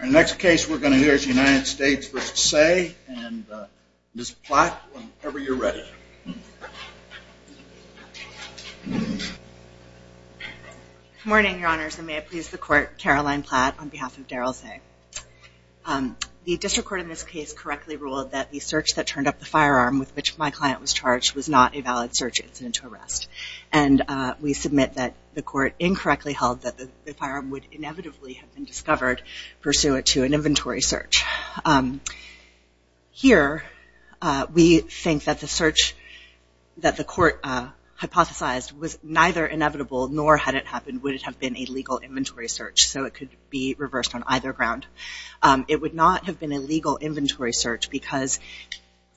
Our next case we're going to hear is United States v. Seay and Ms. Platt, whenever you're ready. Caroline Platt Good morning, Your Honors, and may it please the Court, Caroline Platt on behalf of Darryl Seay. The District Court in this case correctly ruled that the search that turned up the firearm with which my client was charged was not a valid search incident to arrest. And we submit that the Court incorrectly held that the firearm would inevitably have been discovered pursuant to an inventory search. Here, we think that the search that the Court hypothesized was neither inevitable nor had it happened would it have been a legal inventory search. So it could be reversed on either ground. It would not have been a legal inventory search because,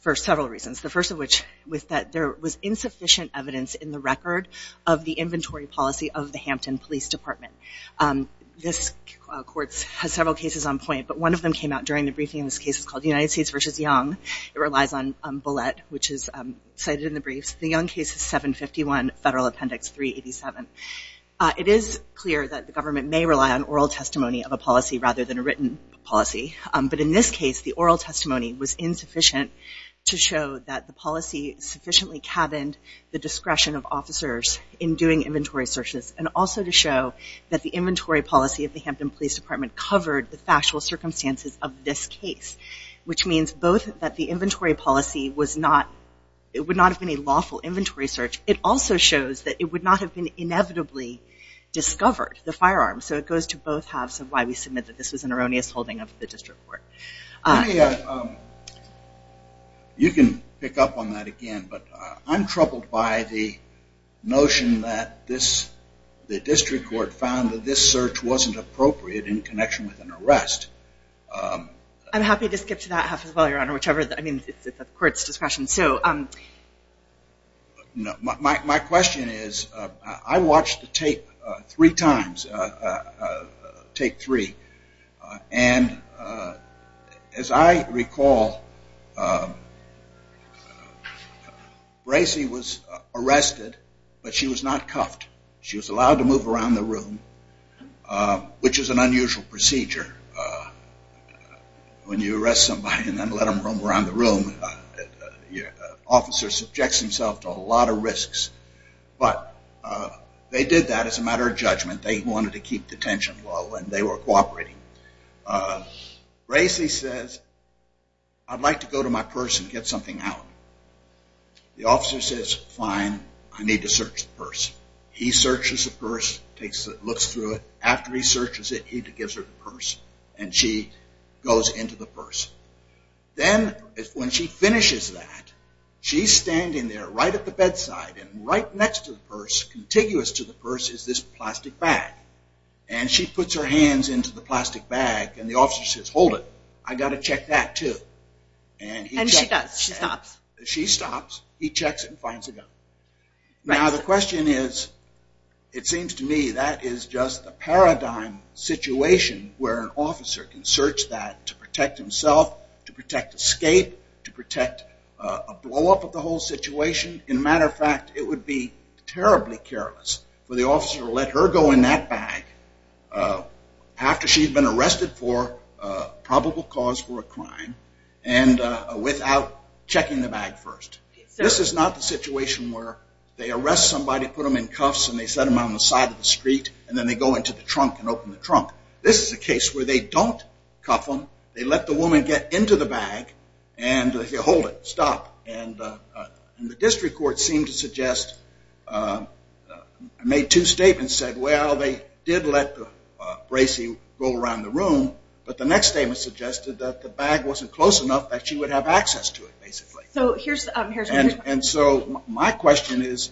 for several reasons, the first of which was that there was insufficient evidence in the record of the inventory policy of the Hampton Police Department. This Court has several cases on point, but one of them came out during the briefing in this case is called United States v. Young. It relies on Bullett, which is cited in the briefs. The Young case is 751 Federal Appendix 387. It is clear that the government may rely on oral testimony of a policy rather than a written policy. But in this case, the oral testimony was insufficient to show that the policy sufficiently cabined the discretion of officers in doing inventory searches and also to show that the inventory policy of the Hampton Police Department covered the factual circumstances of this case, which means both that the inventory policy was not, it would not have been a lawful inventory search. It also shows that it would not have been inevitably discovered, the firearm. So it goes to both halves of why we submit that this was an erroneous holding of the District Court. Let me, you can pick up on that again, but I'm troubled by the notion that this, the District Court found that this search wasn't appropriate in connection with an arrest. I'm happy to skip to that half as well, Your Honor, whichever, I mean, it's at the court's discretion. So my question is, I watched the tape three times, take three, and as I recall, Bracey was arrested, but she was not cuffed. She was allowed to move around the room, which is an unusual procedure when you arrest somebody and then let them roam around the room. The officer subjects himself to a lot of risks, but they did that as a matter of judgment. They wanted to keep the tension low and they were cooperating. Bracey says, I'd like to go to my purse and get something out. The officer says, fine, I need to search the purse. He searches the purse, looks through it. After he searches it, he gives her the purse and she goes into the purse. Then when she finishes that, she's standing there right at the bedside and right next to the purse, contiguous to the purse, is this plastic bag. And she puts her hands into the plastic bag and the officer says, hold it, I got to check that too. And she does, she stops. She stops, he checks it and finds a gun. Now the question is, it seems to me that is just the paradigm situation where an officer can search that to protect himself, to protect escape, to protect a blow-up of the whole situation. In matter of fact, it would be terribly careless for the officer to let her go in that bag after she's been arrested for probable cause for a crime and without checking the bag first. This is not the situation where they arrest somebody, put them in cuffs and they set them on the side of the street and then they go into the trunk and open the trunk. This is a case where they don't cuff them. They let the woman get into the bag and hold it, stop. And the district court seemed to suggest, made two statements, said, well, they did let Bracey go around the room, but the next statement suggested that the bag wasn't close enough that she would have access to it, basically. And so my question is,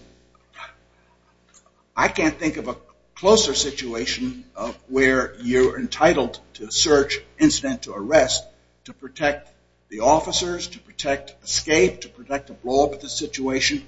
I can't think of a closer situation of where you're entitled to search, incident to arrest, to protect the officers, to protect escape, to protect a blow-up of the situation.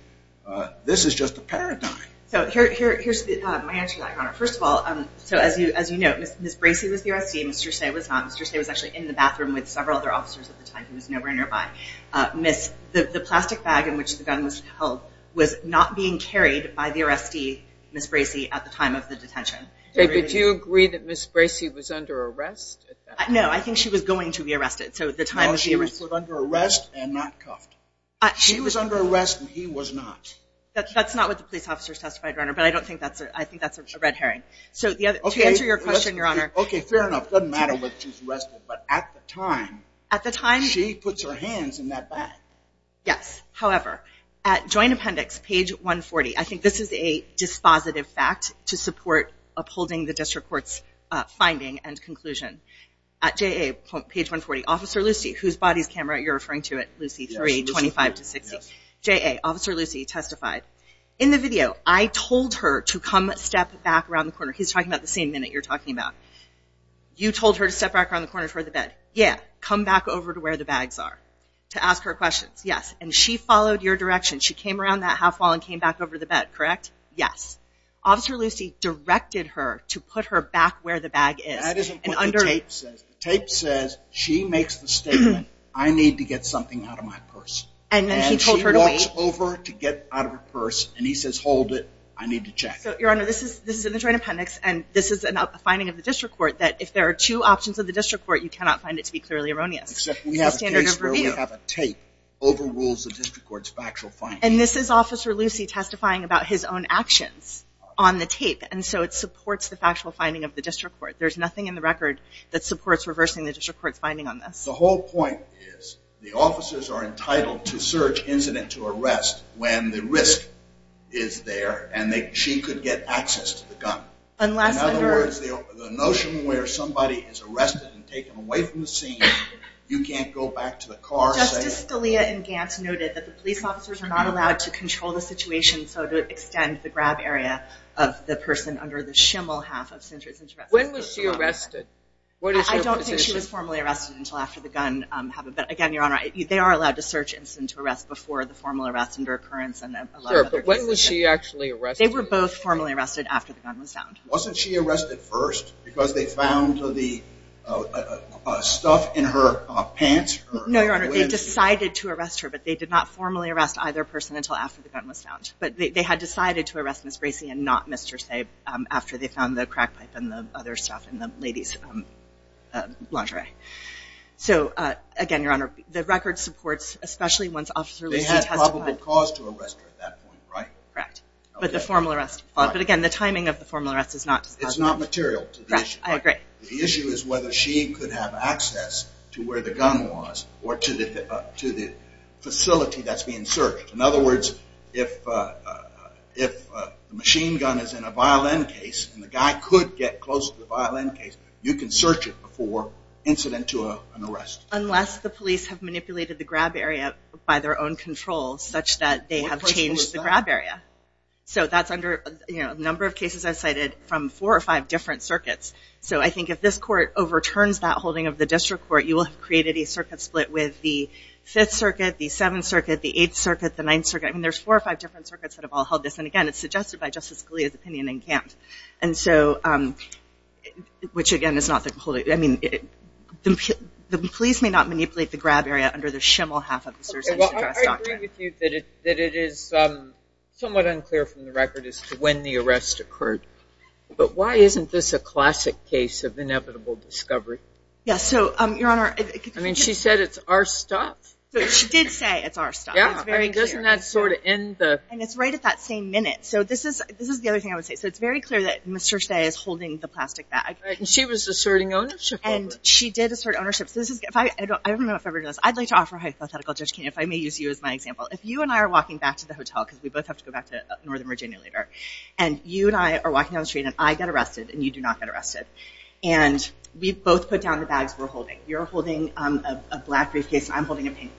This is just a paradigm. So here's my answer, Your Honor. First of all, so as you know, Ms. Bracey was the arrestee. Mr. Seay was not. Mr. Seay was actually in the bathroom with several other officers at the time. He was nowhere nearby. The plastic bag in which the gun was held was not being carried by the arrestee, Ms. Bracey, at the time of the detention. David, do you agree that Ms. Bracey was under arrest at that time? No, I think she was going to be arrested, so at the time of the arrest. No, she was put under arrest and not cuffed. She was under arrest and he was not. That's not what the police officers testified, Your Honor, but I think that's a red herring. So to answer your question, Your Honor... Okay, fair enough. Doesn't matter what she's arrested, but at the time, she puts her hands in that bag. Yes. However, at Joint Appendix, page 140, I think this is a dispositive fact to support upholding the District Court's finding and conclusion. At JA, page 140, Officer Lucy, whose body's camera, you're referring to it, Officer Lucy 3, 25-60. JA, Officer Lucy testified, In the video, I told her to come step back around the corner. He's talking about the same minute you're talking about. You told her to step back around the corner toward the bed. Yeah. Come back over to where the bags are to ask her questions. Yes. And she followed your direction. She came around that half wall and came back over to the bed, correct? Yes. Officer Lucy directed her to put her back where the bag is. That isn't what the tape says. The tape says she makes the statement, I need to get something out of my purse. And then he told her to wait. And she walks over to get out of her purse, and he says, hold it, I need to check. So, Your Honor, this is in the Joint Appendix, and this is a finding of the District Court that if there are two options of the District Court, you cannot find it to be clearly erroneous. Except we have a case where we have a tape overrules the District Court's factual finding. And this is Officer Lucy testifying about his own actions on the tape. And so it supports the factual finding of the District Court. There's nothing in the record that supports reversing the District Court's finding on this. The whole point is, the officers are entitled to search incident to arrest when the risk is there, and she could get access to the gun. Unless under... In other words, the notion where somebody is arrested and taken away from the scene, you can't go back to the car safe. Justice Scalia and Gantz noted that the police officers are not allowed to control the situation, so to extend the grab area of the person under the shimmel half of Cintra's arrest... When was she arrested? What is her position? I don't think she was formally arrested until after the gun happened. But again, Your Honor, they are allowed to search incident to arrest before the formal arrest under occurrence, and a lot of other cases... Sure, but when was she actually arrested? They were both formally arrested after the gun was found. Wasn't she arrested first? Because they found the stuff in her pants? No, Your Honor, they decided to arrest her, but they did not formally arrest either person until after the gun was found. But they had decided to arrest Ms. Bracey and not Mr. Saib after they found the crack pipe and the other stuff in the ladies lingerie. So again, Your Honor, the record supports, especially once Officer Lucy testified... They had probable cause to arrest her at that point, right? Correct. But the formal arrest... But again, the timing of the formal arrest is not disclosed. It's not material to the issue. Right, I agree. The issue is whether she could have access to where the gun was or to the facility that's being searched. In other words, if the machine gun is in a violent case and the guy could get close to the violent case, you can search it before incident to an arrest. Unless the police have manipulated the grab area by their own control such that they have changed the grab area. So that's under a number of cases I've cited from four or five different circuits. So I think if this court overturns that holding of the district court, you will have created a circuit split with the 5th Circuit, the 7th Circuit, the 8th Circuit, the 9th Circuit. I mean, there's four or five different circuits that have all held this. And again, it's suggested by Justice Scalia's opinion and can't. And so, which again is not the whole... I mean, the police may not manipulate the grab area under the shimmel half of the search and address doctrine. Well, I agree with you that it is somewhat unclear from the record as to when the arrest occurred. But why isn't this a classic case of inevitable discovery? Yes. So, Your Honor... I mean, she said it's our stuff. But she did say it's our stuff. Yeah, I mean, doesn't that sort of end the... And it's right at that same minute. So this is the other thing I would say. So it's very clear that Mr. Shea is holding the plastic bag. And she was asserting ownership. And she did assert ownership. So this is... I don't know if everybody knows. I'd like to offer hypothetical, Judge Kinney, if I may use you as my example. If you and I are walking back to the hotel, because we both have to go back to Northern Virginia later, and you and I are walking down the street, and I get arrested, and you do not get arrested. And we both put down the bags we're holding. You're holding a black briefcase. I'm holding a pink briefcase.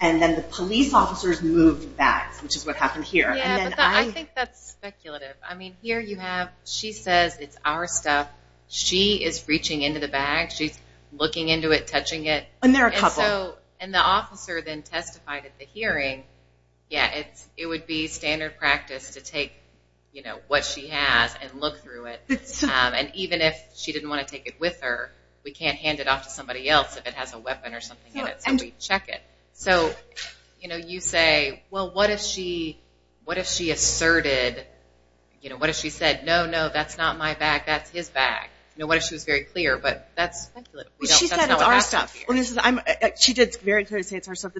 And then the police officers move the bags, which is what happened here. Yeah, but I think that's speculative. I mean, here you have... She says it's our stuff. She is reaching into the bag. She's looking into it, touching it. And there are a couple. And the officer then testified at the hearing. Yeah, it would be standard practice to take what she has and look through it. And even if she didn't want to take it with her, we can't hand it off to somebody else if it has a weapon or something in it. So we check it. So you say, well, what if she asserted... What if she said, no, no, that's not my bag. That's his bag. What if she was very clear? But that's speculative. She said it's our stuff. She did very clearly say it's her stuff.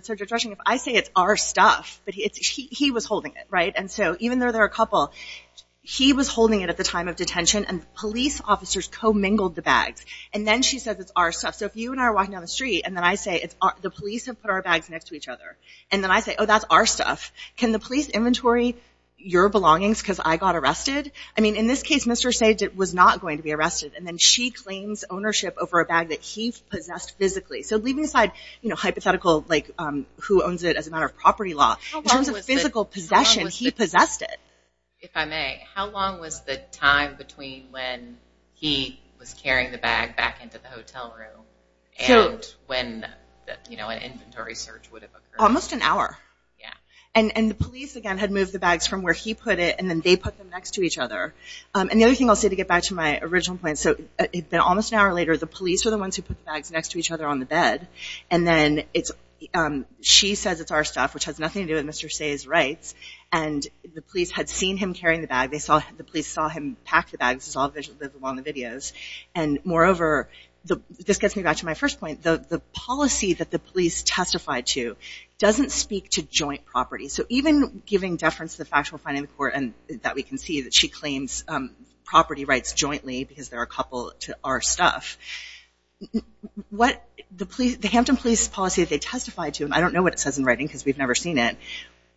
I say it's our stuff, but he was holding it, right? And so even though there are a couple, he was holding it at the time of detention. And the police officers co-mingled the bags. And then she says it's our stuff. So if you and I are walking down the street, and then I say it's our... The police have put our bags next to each other. And then I say, oh, that's our stuff. Can the police inventory your belongings because I got arrested? I mean, in this case, Mr. Sajid was not going to be arrested. And then she claims ownership over a bag that he possessed physically. So leaving aside hypothetical who owns it as a matter of property law, in terms of physical possession, he possessed it. If I may, how long was the time between when he was carrying the bag back into the hotel room and when an inventory search would have occurred? Almost an hour. Yeah. And the police, again, had moved the bags from where he put it, and then they put them next to each other. And the other thing I'll say to get back to my original point. So it had been almost an hour later. The police were the ones who put the bags next to each other on the bed. And then it's... She says it's our stuff, which has nothing to do with Mr. Sajid's rights. And the police had seen him carrying the bag. They saw... The police saw him pack the bags. It's all on the videos. And moreover, this gets me back to my first point. The policy that the police testified to doesn't speak to joint property. So even giving deference to the factual finding in court, and that we can see that she claims property rights jointly because they're a couple to our stuff. What the police... The Hampton Police policy that they testified to, and I don't know what it says in writing because we've never seen it.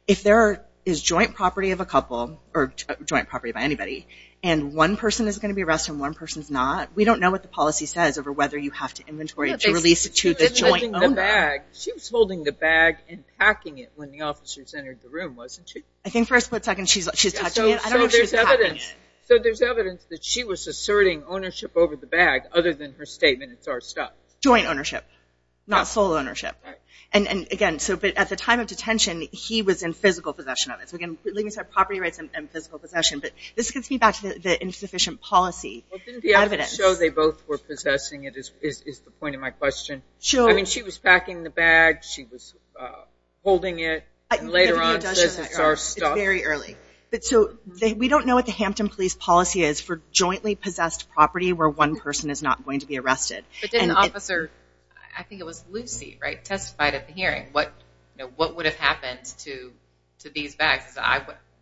If there is joint property of a couple, or joint property by anybody, and one person is going to be arrested and one person's not, we don't know what the policy says over whether you have to inventory to release it to the joint owner. She was holding the bag and packing it when the officers entered the room, wasn't she? I think for a split second she's touching it. I don't know if she's packing it. So there's evidence that she was asserting ownership over the bag other than her statement, it's our stuff. Joint ownership, not sole ownership. And again, at the time of detention, he was in physical possession of it. So again, property rights and physical possession. But this gets me back to the insufficient policy evidence. So they both were possessing it is the point of my question. I mean, she was packing the bag, she was holding it, and later on says it's our stuff. It's very early. So we don't know what the Hampton Police policy is for jointly possessed property where one person is not going to be arrested. But didn't Officer, I think it was Lucy, right, testified at the hearing. What would have happened to these bags?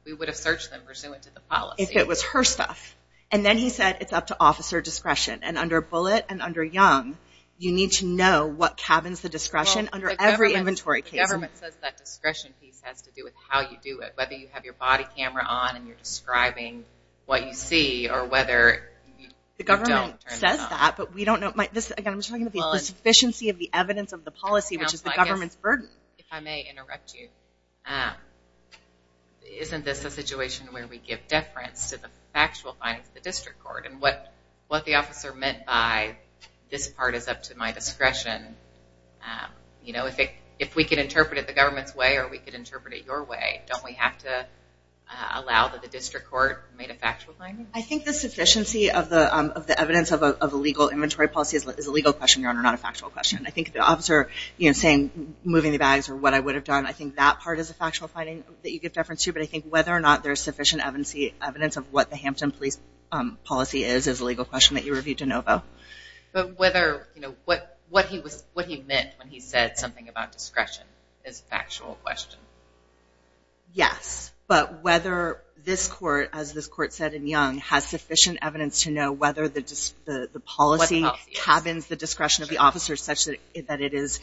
We would have searched them pursuant to the policy. If it was her stuff. And then he said it's up to officer discretion. And under Bullitt and under Young, you need to know what cabins the discretion under every inventory case. The government says that discretion piece has to do with how you do it, whether you have your body camera on and you're describing what you see or whether you don't turn it on. The government says that, but we don't know. Again, I'm talking about the insufficiency of the evidence of the policy, which is the government's burden. If I may interrupt you, isn't this a situation where we give deference to the factual findings of the district court? And what the officer meant by this part is up to my discretion. If we can interpret it the government's way or we can interpret it your way, don't we have to allow that the district court made a factual finding? I think the sufficiency of the evidence of a legal inventory policy is a legal question, Your Honor, not a factual question. I think the officer saying moving the bags or what I would have done, I think that part is a factual finding that you give deference to. But I think whether or not there's sufficient evidence of what the Hampton Police policy is is a legal question that you reviewed de novo. But what he meant when he said something about discretion is a factual question. Yes. But whether this court, as this court said in Young, has sufficient evidence to know whether the policy cabins the discretion of the officer such that it is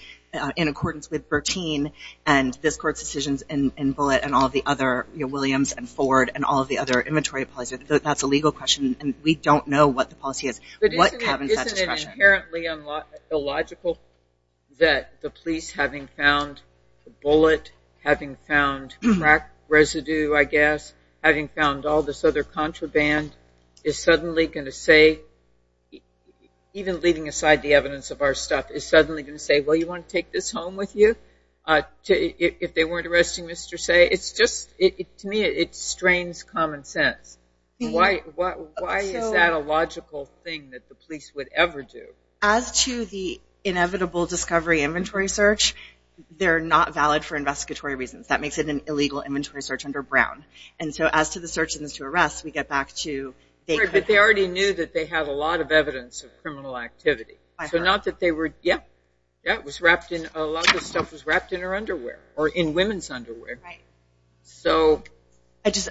in accordance with Bertine and this court's decisions in Bullitt and all the other, you know, Williams and Ford and all the other inventory policies, that's a legal question and we don't know what the policy is. What cabins that discretion? It's inherently illogical that the police, having found Bullitt, having found crack residue, I guess, having found all this other contraband, is suddenly going to say, even leaving aside the evidence of our stuff, is suddenly going to say, well, you want to take this home with you? If they weren't arresting Mr. Say, it's just, to me, it strains common sense. Why is that a logical thing that the police would ever do? As to the inevitable discovery inventory search, they're not valid for investigatory reasons. That makes it an illegal inventory search under Brown. And so as to the search and to arrest, we get back to... Right, but they already knew that they have a lot of evidence of criminal activity. So not that they were, yeah, yeah, it was wrapped in, a lot of this stuff was wrapped in her underwear or in women's underwear. Right.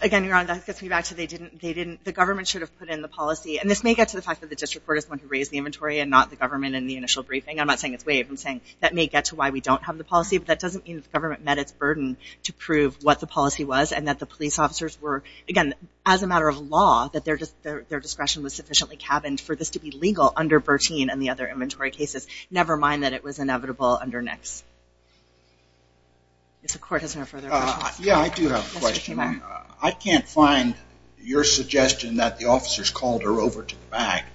Again, Your Honor, that gets me back to they didn't, the government should have put in the policy. And this may get to the fact that the district court is the one who raised the inventory and not the government in the initial briefing. I'm not saying it's waived. I'm saying that may get to why we don't have the policy. But that doesn't mean that the government met its burden to prove what the policy was and that the police officers were, again, as a matter of law, that their discretion was sufficiently cabined for this to be legal under Bertine and the other inventory cases, never mind that it was inevitable under Nix. If the court has no further questions. Yeah, I do have a question. I can't find your suggestion that the officers called her over to the back.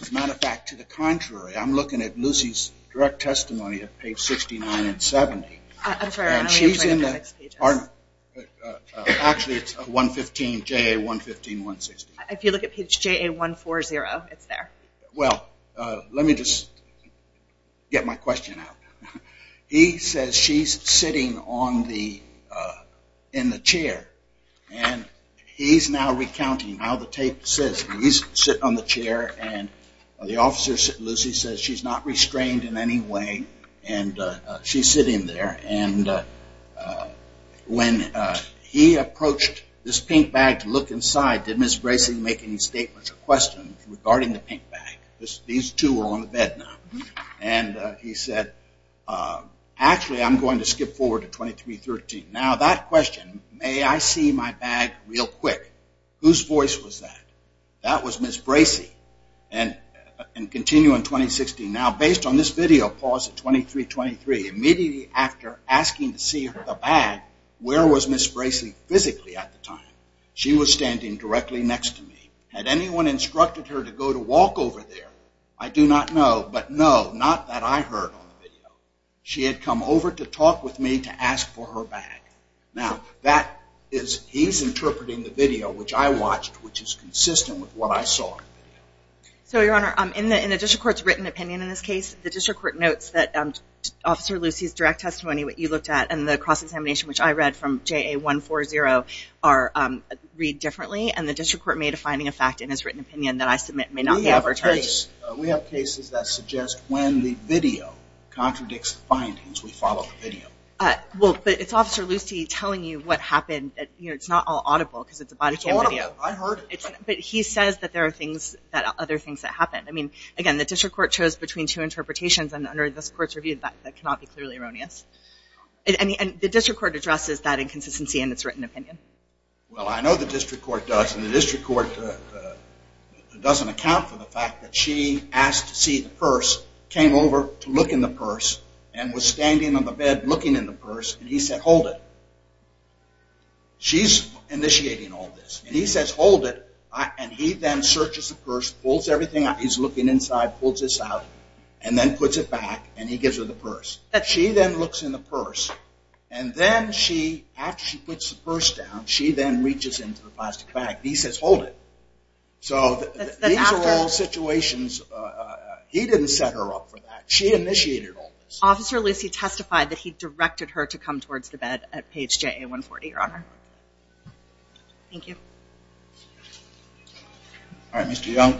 As a matter of fact, to the contrary, I'm looking at Lucy's direct testimony at page 69 and 70. I'm sorry, I only have 26 pages. And she's in the, actually it's 115, JA 115, 160. If you look at page JA 140, it's there. Well, let me just get my question out. He says she's sitting on the, in the chair. And he's now recounting how the tape says. He's sitting on the chair and the officer, Lucy, says she's not restrained in any way. And she's sitting there. And when he approached this pink bag to look inside, did Ms. Bracey make any statements or questions regarding the pink bag? These two are on the bed now. And he said, actually, I'm going to skip forward to 2313. Now, that question, may I see my bag real quick? Whose voice was that? That was Ms. Bracey. And continue in 2016. Now, based on this video, pause at 2323. Immediately after asking to see the bag, where was Ms. Bracey physically at the time? She was standing directly next to me. Had anyone instructed her to go to walk over there? I do not know. But no, not that I heard on the video. She had come over to talk with me to ask for her bag. Now, that is, he's interpreting the video, which I watched, which is consistent with what I saw. So, Your Honor, in the district court's written opinion in this case, the district court notes that Officer Lucy's direct testimony, what you looked at, and the cross-examination, which I read from JA 140, read differently. And the district court may defining a fact in his written opinion that I submit may not be advertised. We have cases that suggest when the video contradicts the findings, we follow the video. But it's Officer Lucy telling you what happened. It's not all audible because it's a body cam video. It's audible. I heard it. But he says that there are other things that happened. Again, the district court chose between two interpretations, and under this court's review, that cannot be clearly erroneous. And the district court addresses that inconsistency in its written opinion. Well, I know the district court does, and the district court doesn't account for the fact that she asked to see the purse, came over to look in the purse, and was standing on the bed looking in the purse, and he said, hold it. She's initiating all this. And he says, hold it. And he then searches the purse, pulls everything out. He's looking inside, pulls this out, and then puts it back, and he gives her the purse. She then looks in the purse, and then she, after she puts the purse down, she then reaches into the plastic bag, and he says, hold it. So these are all situations. He didn't set her up for that. She initiated all this. Officer Lucy testified that he directed her to come towards the bed at page JA 140, Your Honor. Thank you. All right, Mr. Young.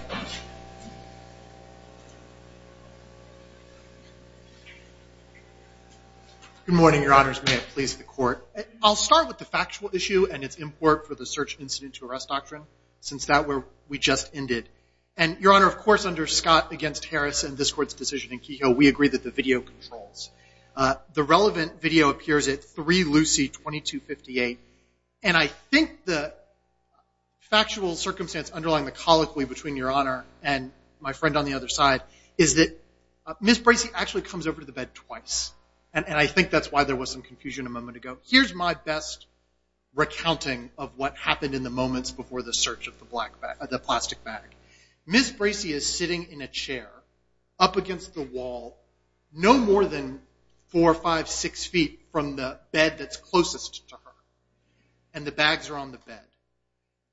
Good morning, Your Honors. May it please the court. I'll start with the factual issue and its import for the search incident to arrest doctrine, since that we just ended. And, Your Honor, of course, under Scott against Harris and this Court's decision in Kehoe, we agree that the video controls. The relevant video appears at 3 Lucy 2258, and I think the factual circumstance underlying the colloquy between Your Honor and my friend on the other side is that Ms. Bracey actually comes over to the bed twice, and I think that's why there was some confusion a moment ago. Here's my best recounting of what happened in the moments before the search of the plastic bag. Ms. Bracey is sitting in a chair up against the wall, no more than four, five, six feet from the bed that's closest to her, and the bags are on the bed.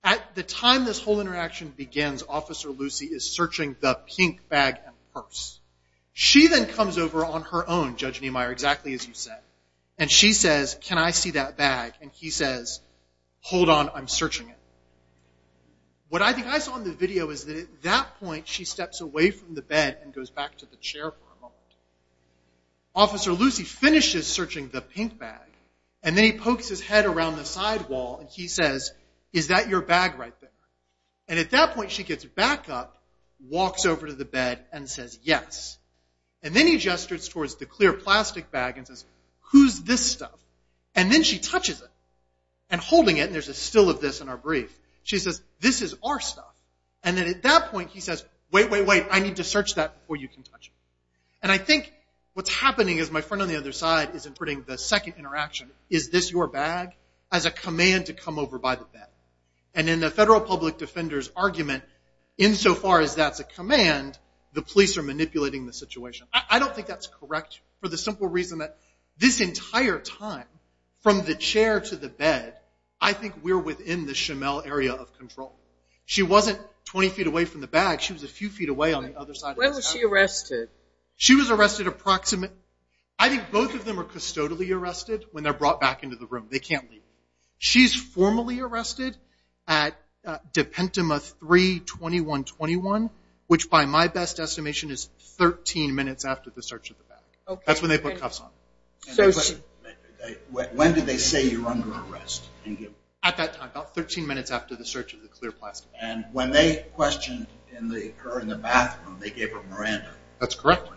At the time this whole interaction begins, Officer Lucy is searching the pink bag and purse. She then comes over on her own, Judge Niemeyer, exactly as you said, and she says, Can I see that bag? And he says, Hold on, I'm searching it. What I think I saw in the video is that at that point she steps away from the bed and goes back to the chair for a moment. Officer Lucy finishes searching the pink bag, and then he pokes his head around the side wall, and he says, Is that your bag right there? And at that point she gets back up, walks over to the bed, and says, Yes. And then he gestures towards the clear plastic bag and says, Who's this stuff? And then she touches it. And holding it, and there's a still of this in our brief, she says, This is our stuff. And then at that point he says, Wait, wait, wait, I need to search that before you can touch it. And I think what's happening is my friend on the other side is interpreting the second interaction, Is this your bag? as a command to come over by the bed. And in the Federal Public Defender's argument, insofar as that's a command, the police are manipulating the situation. I don't think that's correct for the simple reason that this entire time, from the chair to the bed, I think we're within the Shamel area of control. She wasn't 20 feet away from the bag. She was a few feet away on the other side of this house. When was she arrested? She was arrested approximately – I think both of them are custodially arrested when they're brought back into the room. They can't leave. She's formally arrested at Depentuma 3-2121, which by my best estimation is 13 minutes after the search of the bag. That's when they put cuffs on her. When did they say you were under arrest? At that time, about 13 minutes after the search of the clear plastic bag. And when they questioned her in the bathroom, they gave her Miranda. That's correct.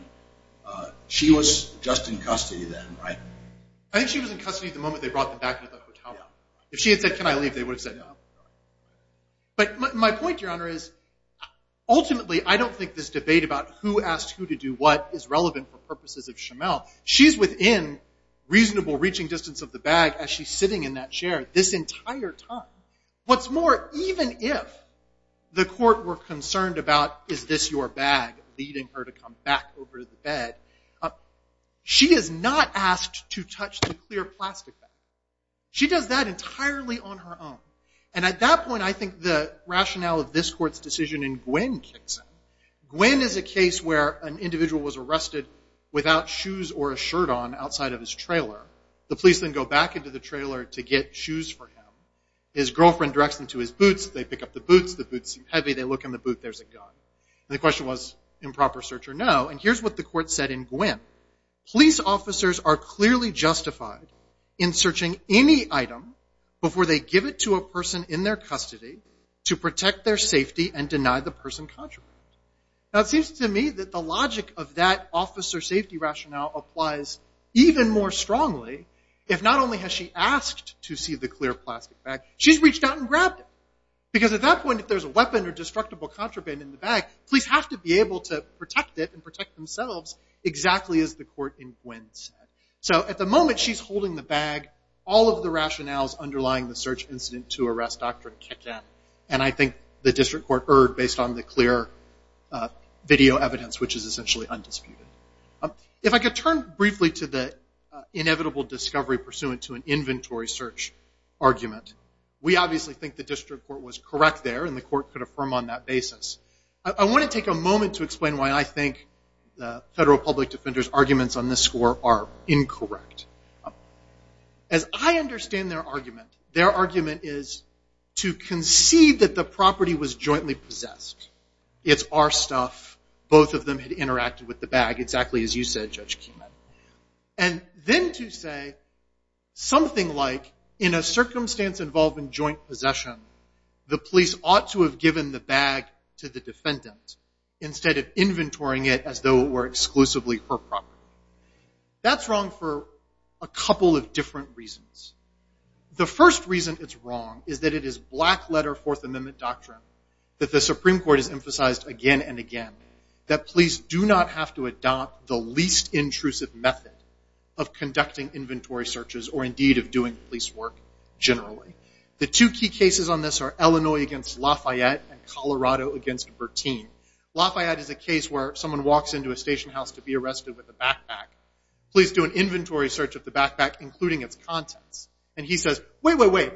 She was just in custody then, right? I think she was in custody the moment they brought her back out of the hotel room. If she had said, can I leave, they would have said no. But my point, Your Honor, is ultimately, I don't think this debate about who asked who to do what is relevant for purposes of Shamel. She's within reasonable reaching distance of the bag as she's sitting in that chair this entire time. What's more, even if the court were concerned about is this your bag leading her to come back over to the bed, she is not asked to touch the clear plastic bag. She does that entirely on her own. And at that point, I think the rationale of this court's decision in Gwynn kicks in. Gwynn is a case where an individual was arrested without shoes or a shirt on outside of his trailer. The police then go back into the trailer to get shoes for him. His girlfriend directs them to his boots. They pick up the boots. The boots seem heavy. They look in the boot. There's a gun. And the question was improper search or no. And here's what the court said in Gwynn. Police officers are clearly justified in searching any item before they give it to a person in their custody to protect their safety and deny the person contraband. Now, it seems to me that the logic of that officer safety rationale applies even more strongly if not only has she asked to see the clear plastic bag, she's reached out and grabbed it. Because at that point, if there's a weapon or destructible contraband in the bag, police have to be able to protect it and protect themselves exactly as the court in Gwynn said. So at the moment, she's holding the bag. All of the rationales underlying the search incident to arrest doctrine kick in. And I think the district court erred based on the clear video evidence, which is essentially undisputed. If I could turn briefly to the inevitable discovery pursuant to an inventory search argument, we obviously think the district court was correct there and the court could affirm on that basis. I want to take a moment to explain why I think the federal public defender's arguments on this score are incorrect. As I understand their argument, their argument is to concede that the property was jointly possessed. It's our stuff. Both of them had interacted with the bag, exactly as you said, Judge Keenan. And then to say something like, in a circumstance involving joint possession, the police ought to have given the bag to the defendant instead of inventorying it as though it were exclusively her property. That's wrong for a couple of different reasons. The first reason it's wrong is that it is black-letter Fourth Amendment doctrine that the Supreme Court has emphasized again and again that police do not have to adopt the least intrusive method of conducting inventory searches or indeed of doing police work generally. The two key cases on this are Illinois against Lafayette and Colorado against Bertin. Lafayette is a case where someone walks into a station house to be arrested with a backpack. Police do an inventory search of the backpack, including its contents. And he says, wait, wait, wait.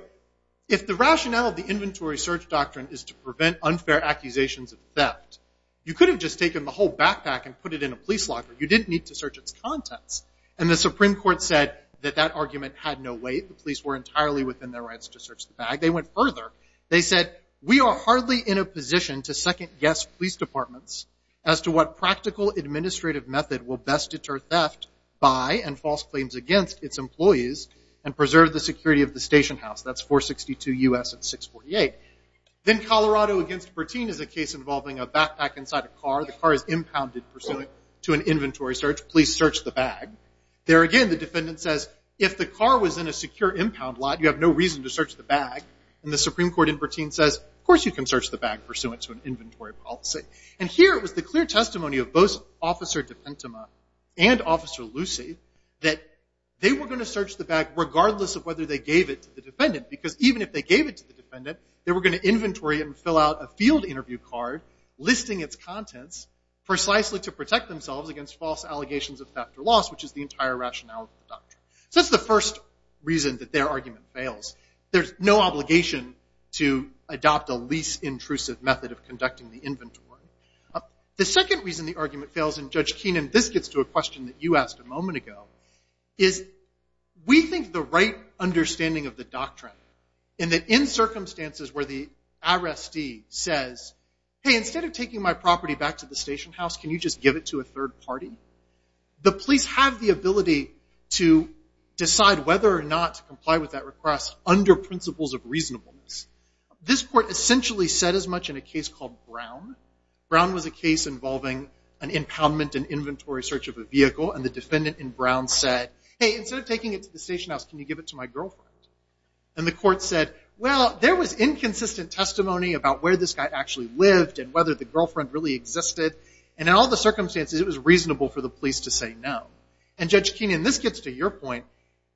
If the rationale of the inventory search doctrine is to prevent unfair accusations of theft, you could have just taken the whole backpack and put it in a police locker. You didn't need to search its contents. And the Supreme Court said that that argument had no weight. The police were entirely within their rights to search the bag. They went further. They said, we are hardly in a position to second-guess police departments as to what practical administrative method will best deter theft by and false claims against its employees and preserve the security of the station house. That's 462 U.S. and 648. Then Colorado against Bertin is a case involving a backpack inside a car. The car is impounded pursuant to an inventory search. Police search the bag. There again, the defendant says, if the car was in a secure impound lot, you have no reason to search the bag. And the Supreme Court in Bertin says, of course you can search the bag pursuant to an inventory policy. And here was the clear testimony of both Officer DePintema and Officer Lucy that they were going to search the bag regardless of whether they gave it to the defendant because even if they gave it to the defendant, they were going to inventory it and fill out a field interview card listing its contents precisely to protect themselves against false allegations of theft or loss, which is the entire rationale of the doctrine. So that's the first reason that their argument fails. There's no obligation to adopt a lease-intrusive method of conducting the inventory. The second reason the argument fails, and Judge Keenan, this gets to a question that you asked a moment ago, is we think the right understanding of the doctrine in that in circumstances where the arrestee says, hey, instead of taking my property back to the station house, can you just give it to a third party? The police have the ability to decide whether or not to comply with that request under principles of reasonableness. This court essentially said as much in a case called Brown. Brown was a case involving an impoundment and inventory search of a vehicle, and the defendant in Brown said, hey, instead of taking it to the station house, can you give it to my girlfriend? And the court said, well, there was inconsistent testimony about where this guy actually lived and whether the girlfriend really existed, and in all the circumstances, it was reasonable for the police to say no. And Judge Keenan, this gets to your point.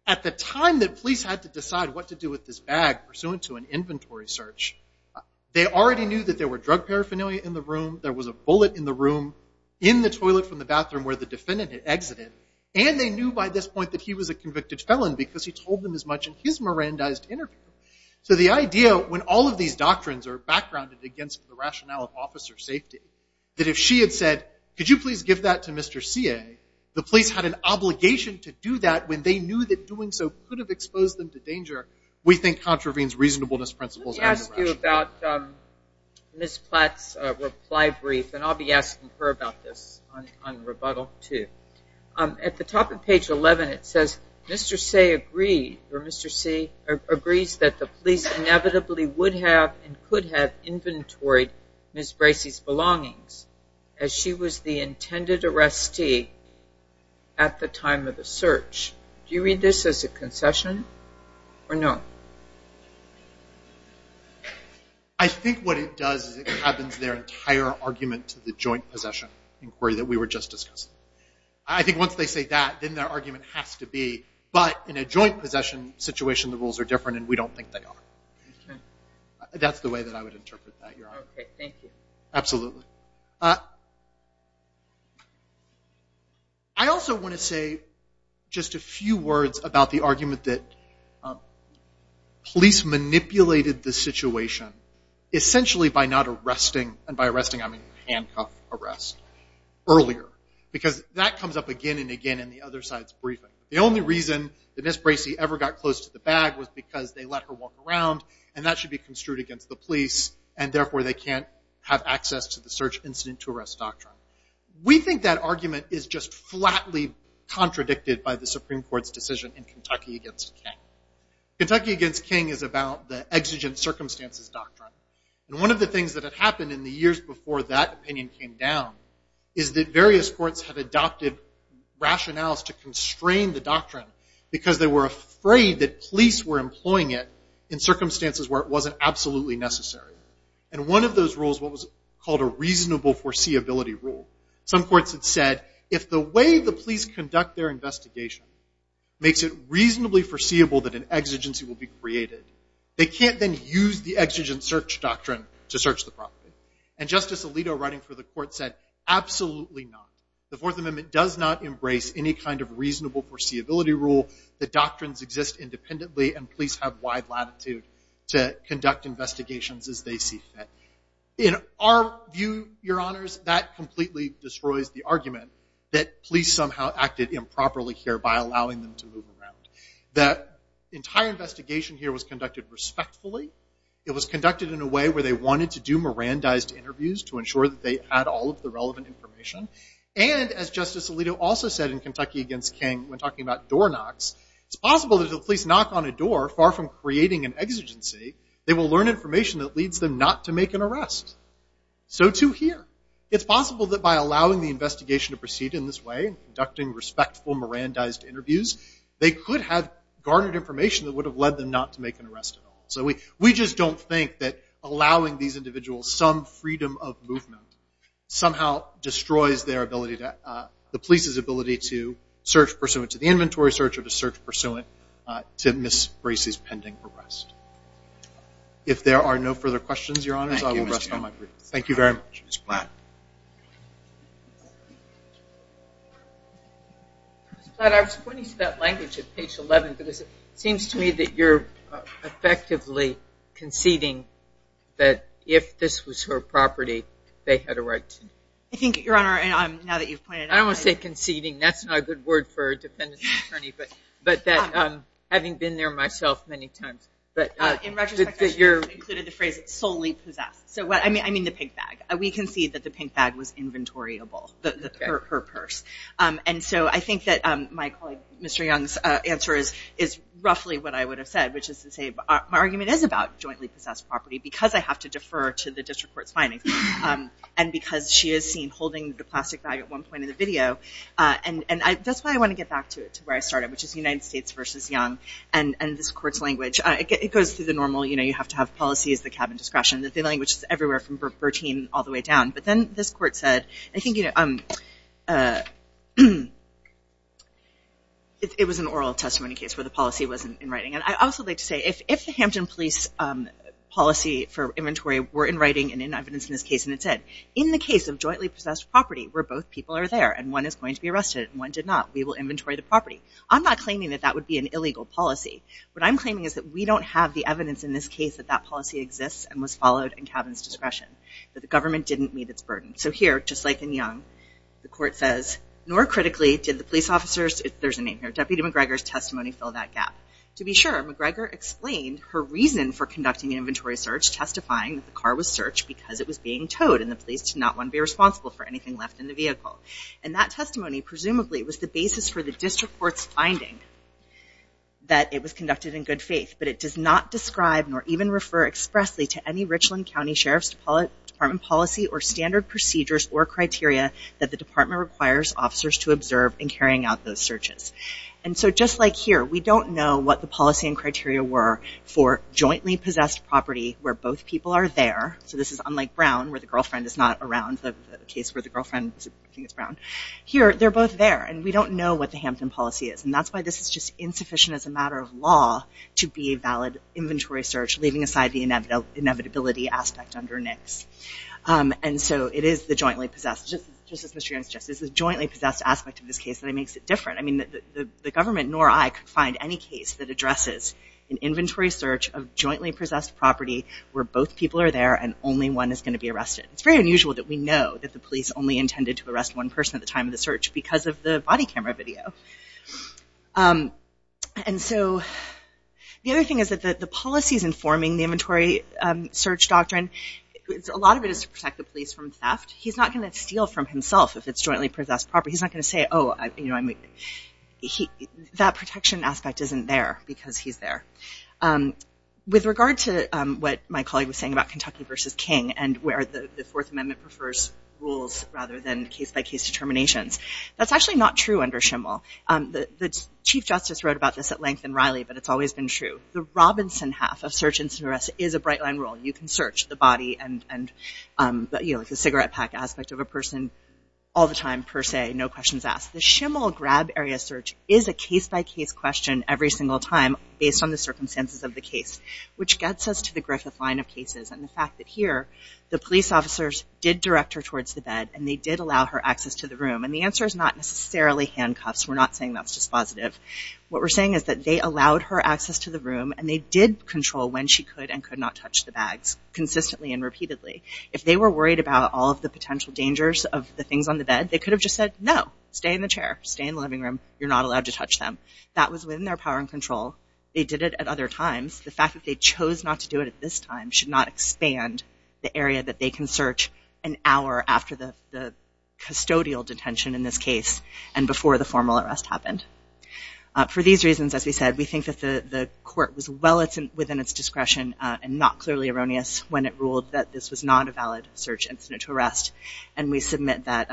At the time that police had to decide what to do with this bag pursuant to an inventory search, they already knew that there were drug paraphernalia in the room, there was a bullet in the room, in the toilet from the bathroom where the defendant had exited, and they knew by this point that he was a convicted felon because he told them as much in his Mirandized interview. So the idea, when all of these doctrines are backgrounded against the rationale of officer safety, that if she had said, could you please give that to Mr. C.A., the police had an obligation to do that when they knew that doing so could have exposed them to danger, we think contravenes reasonableness principles. Let me ask you about Ms. Platt's reply brief, and I'll be asking her about this on rebuttal, too. At the top of page 11, it says, Mr. C.A. agrees that the police inevitably would have and could have inventoried Ms. Bracey's belongings as she was the intended arrestee at the time of the search. Do you read this as a concession or no? I think what it does is it cabins their entire argument to the joint possession inquiry that we were just discussing. I think once they say that, then their argument has to be, but in a joint possession situation, the rules are different and we don't think they are. That's the way that I would interpret that, Your Honor. Okay, thank you. Absolutely. I also want to say just a few words about the argument that police manipulated the situation, essentially by not arresting, and by arresting I mean handcuff arrest, earlier. Because that comes up again and again in the other side's briefing. The only reason that Ms. Bracey ever got close to the bag was because they let her walk around, and that should be construed against the police, and therefore they can't have access to the search incident to arrest doctrine. We think that argument is just flatly contradicted by the Supreme Court's decision in Kentucky against King. Kentucky against King is about the exigent circumstances doctrine, and one of the things that had happened in the years before that opinion came down is that various courts had adopted rationales to constrain the doctrine because they were afraid that police were employing it in circumstances where it wasn't absolutely necessary. And one of those rules was called a reasonable foreseeability rule. Some courts had said, if the way the police conduct their investigation makes it reasonably foreseeable that an exigency will be created, they can't then use the exigent search doctrine to search the property. And Justice Alito, writing for the court, said, absolutely not. The Fourth Amendment does not embrace any kind of reasonable foreseeability rule. The doctrines exist independently, and police have wide latitude to conduct investigations as they see fit. In our view, Your Honors, that completely destroys the argument that police somehow acted improperly here by allowing them to move around. The entire investigation here was conducted respectfully. It was conducted in a way where they wanted to do Mirandized interviews to ensure that they had all of the relevant information. And, as Justice Alito also said in Kentucky Against King, when talking about door knocks, it's possible that if the police knock on a door, far from creating an exigency, they will learn information that leads them not to make an arrest. So too here. It's possible that by allowing the investigation to proceed in this way, conducting respectful Mirandized interviews, they could have garnered information that would have led them not to make an arrest at all. So we just don't think that allowing these individuals some freedom of movement somehow destroys the police's ability to search pursuant to the inventory search or to search pursuant to Ms. Bracey's pending arrest. If there are no further questions, Your Honors, I will rest on my briefs. Thank you very much. Ms. Platt. Ms. Platt, I was pointing to that language at page 11 because it seems to me that you're effectively conceding that if this was her property, they had a right to it. I think, Your Honor, now that you've pointed it out. I don't want to say conceding. That's not a good word for a defendant's attorney, but that having been there myself many times. In retrospect, I should have included the phrase solely possessed. I mean the pink bag. We concede that the pink bag was inventoryable, her purse. I think that my colleague Mr. Young's answer is roughly what I would have said, which is to say my argument is about jointly possessed property because I have to defer to the district court's findings and because she is seen holding the plastic bag at one point in the video. That's why I want to get back to where I started, which is United States versus Young and this court's language. It goes through the normal, you have to have policies, the cabin discretion. The language is everywhere from Bertine all the way down. But then this court said, I think it was an oral testimony case where the policy wasn't in writing. I'd also like to say if the Hampton Police policy for inventory were in writing and in evidence in this case and it said, in the case of jointly possessed property where both people are there and one is going to be arrested and one did not, we will inventory the property. I'm not claiming that that would be an illegal policy. What I'm claiming is that we don't have the evidence in this case that that policy exists and was followed in cabin's discretion, that the government didn't meet its burden. So here, just like in Young, the court says, nor critically did the police officers, there's a name here, Deputy McGregor's testimony fill that gap. To be sure, McGregor explained her reason for conducting an inventory search testifying that the car was searched because it was being towed and the police did not want to be responsible for anything left in the vehicle. And that testimony presumably was the basis for the district court's finding that it was conducted in good faith, but it does not describe nor even refer expressly to any Richland County Sheriff's Department policy or standard procedures or criteria that the department requires officers to observe in carrying out those searches. And so just like here, we don't know what the policy and criteria were for jointly possessed property where both people are there, so this is unlike Brown where the girlfriend is not around, the case where the girlfriend, I think it's Brown. Here, they're both there and we don't know what the Hampton policy is and that's why this is just insufficient as a matter of law to be a valid inventory search leaving aside the inevitability aspect under NICS. And so it is the jointly possessed, just as Mr. Young suggested, it's the jointly possessed aspect of this case that makes it different. I mean, the government nor I could find any case that addresses an inventory search of jointly possessed property where both people are there and only one is going to be arrested. It's very unusual that we know that the police only intended to arrest one person at the time of the search because of the body camera video. And so the other thing is that the policies informing the inventory search doctrine, a lot of it is to protect the police from theft. He's not going to steal from himself if it's jointly possessed property. He's not going to say, oh, that protection aspect isn't there because he's there. With regard to what my colleague was saying about Kentucky versus King and where the Fourth Amendment prefers rules rather than case-by-case determinations, that's actually not true under SHML. The Chief Justice wrote about this at length in Riley, but it's always been true. The Robinson half of search and arrest is a bright line rule. You can search the body and the cigarette pack aspect of a person all the time per se, no questions asked. The SHML grab area search is a case-by-case question every single time based on the circumstances of the case, which gets us to the Griffith line of cases and the fact that here the police officers did direct her towards the bed and they did allow her access to the room. The answer is not necessarily handcuffs. We're not saying that's dispositive. What we're saying is that they allowed her access to the room and they did control when she could and could not touch the bags consistently and repeatedly. If they were worried about all of the potential dangers of the things on the bed, they could have just said, no, stay in the chair, stay in the living room. You're not allowed to touch them. That was within their power and control. They did it at other times. The fact that they chose not to do it at this time should not expand the area that they can search an hour after the custodial detention in this case and before the formal arrest happened. For these reasons, as we said, we think that the court was well within its discretion and not clearly erroneous when it ruled that this was not a valid search incident to arrest, and we submit that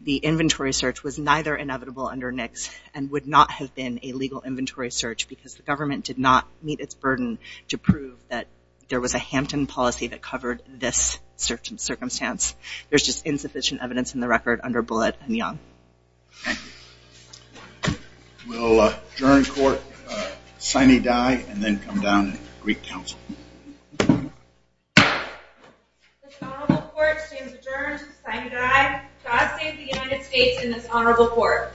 the inventory search was neither inevitable under NICS and would not have been a legal inventory search because the government did not meet its burden to prove that there was a Hampton policy that covered this certain circumstance. There's just insufficient evidence in the record under Bullitt and Young. Thank you. We'll adjourn court, signee die, and then come down to Greek Council. This honorable court stands adjourned. Signee die. God save the United States and this honorable court.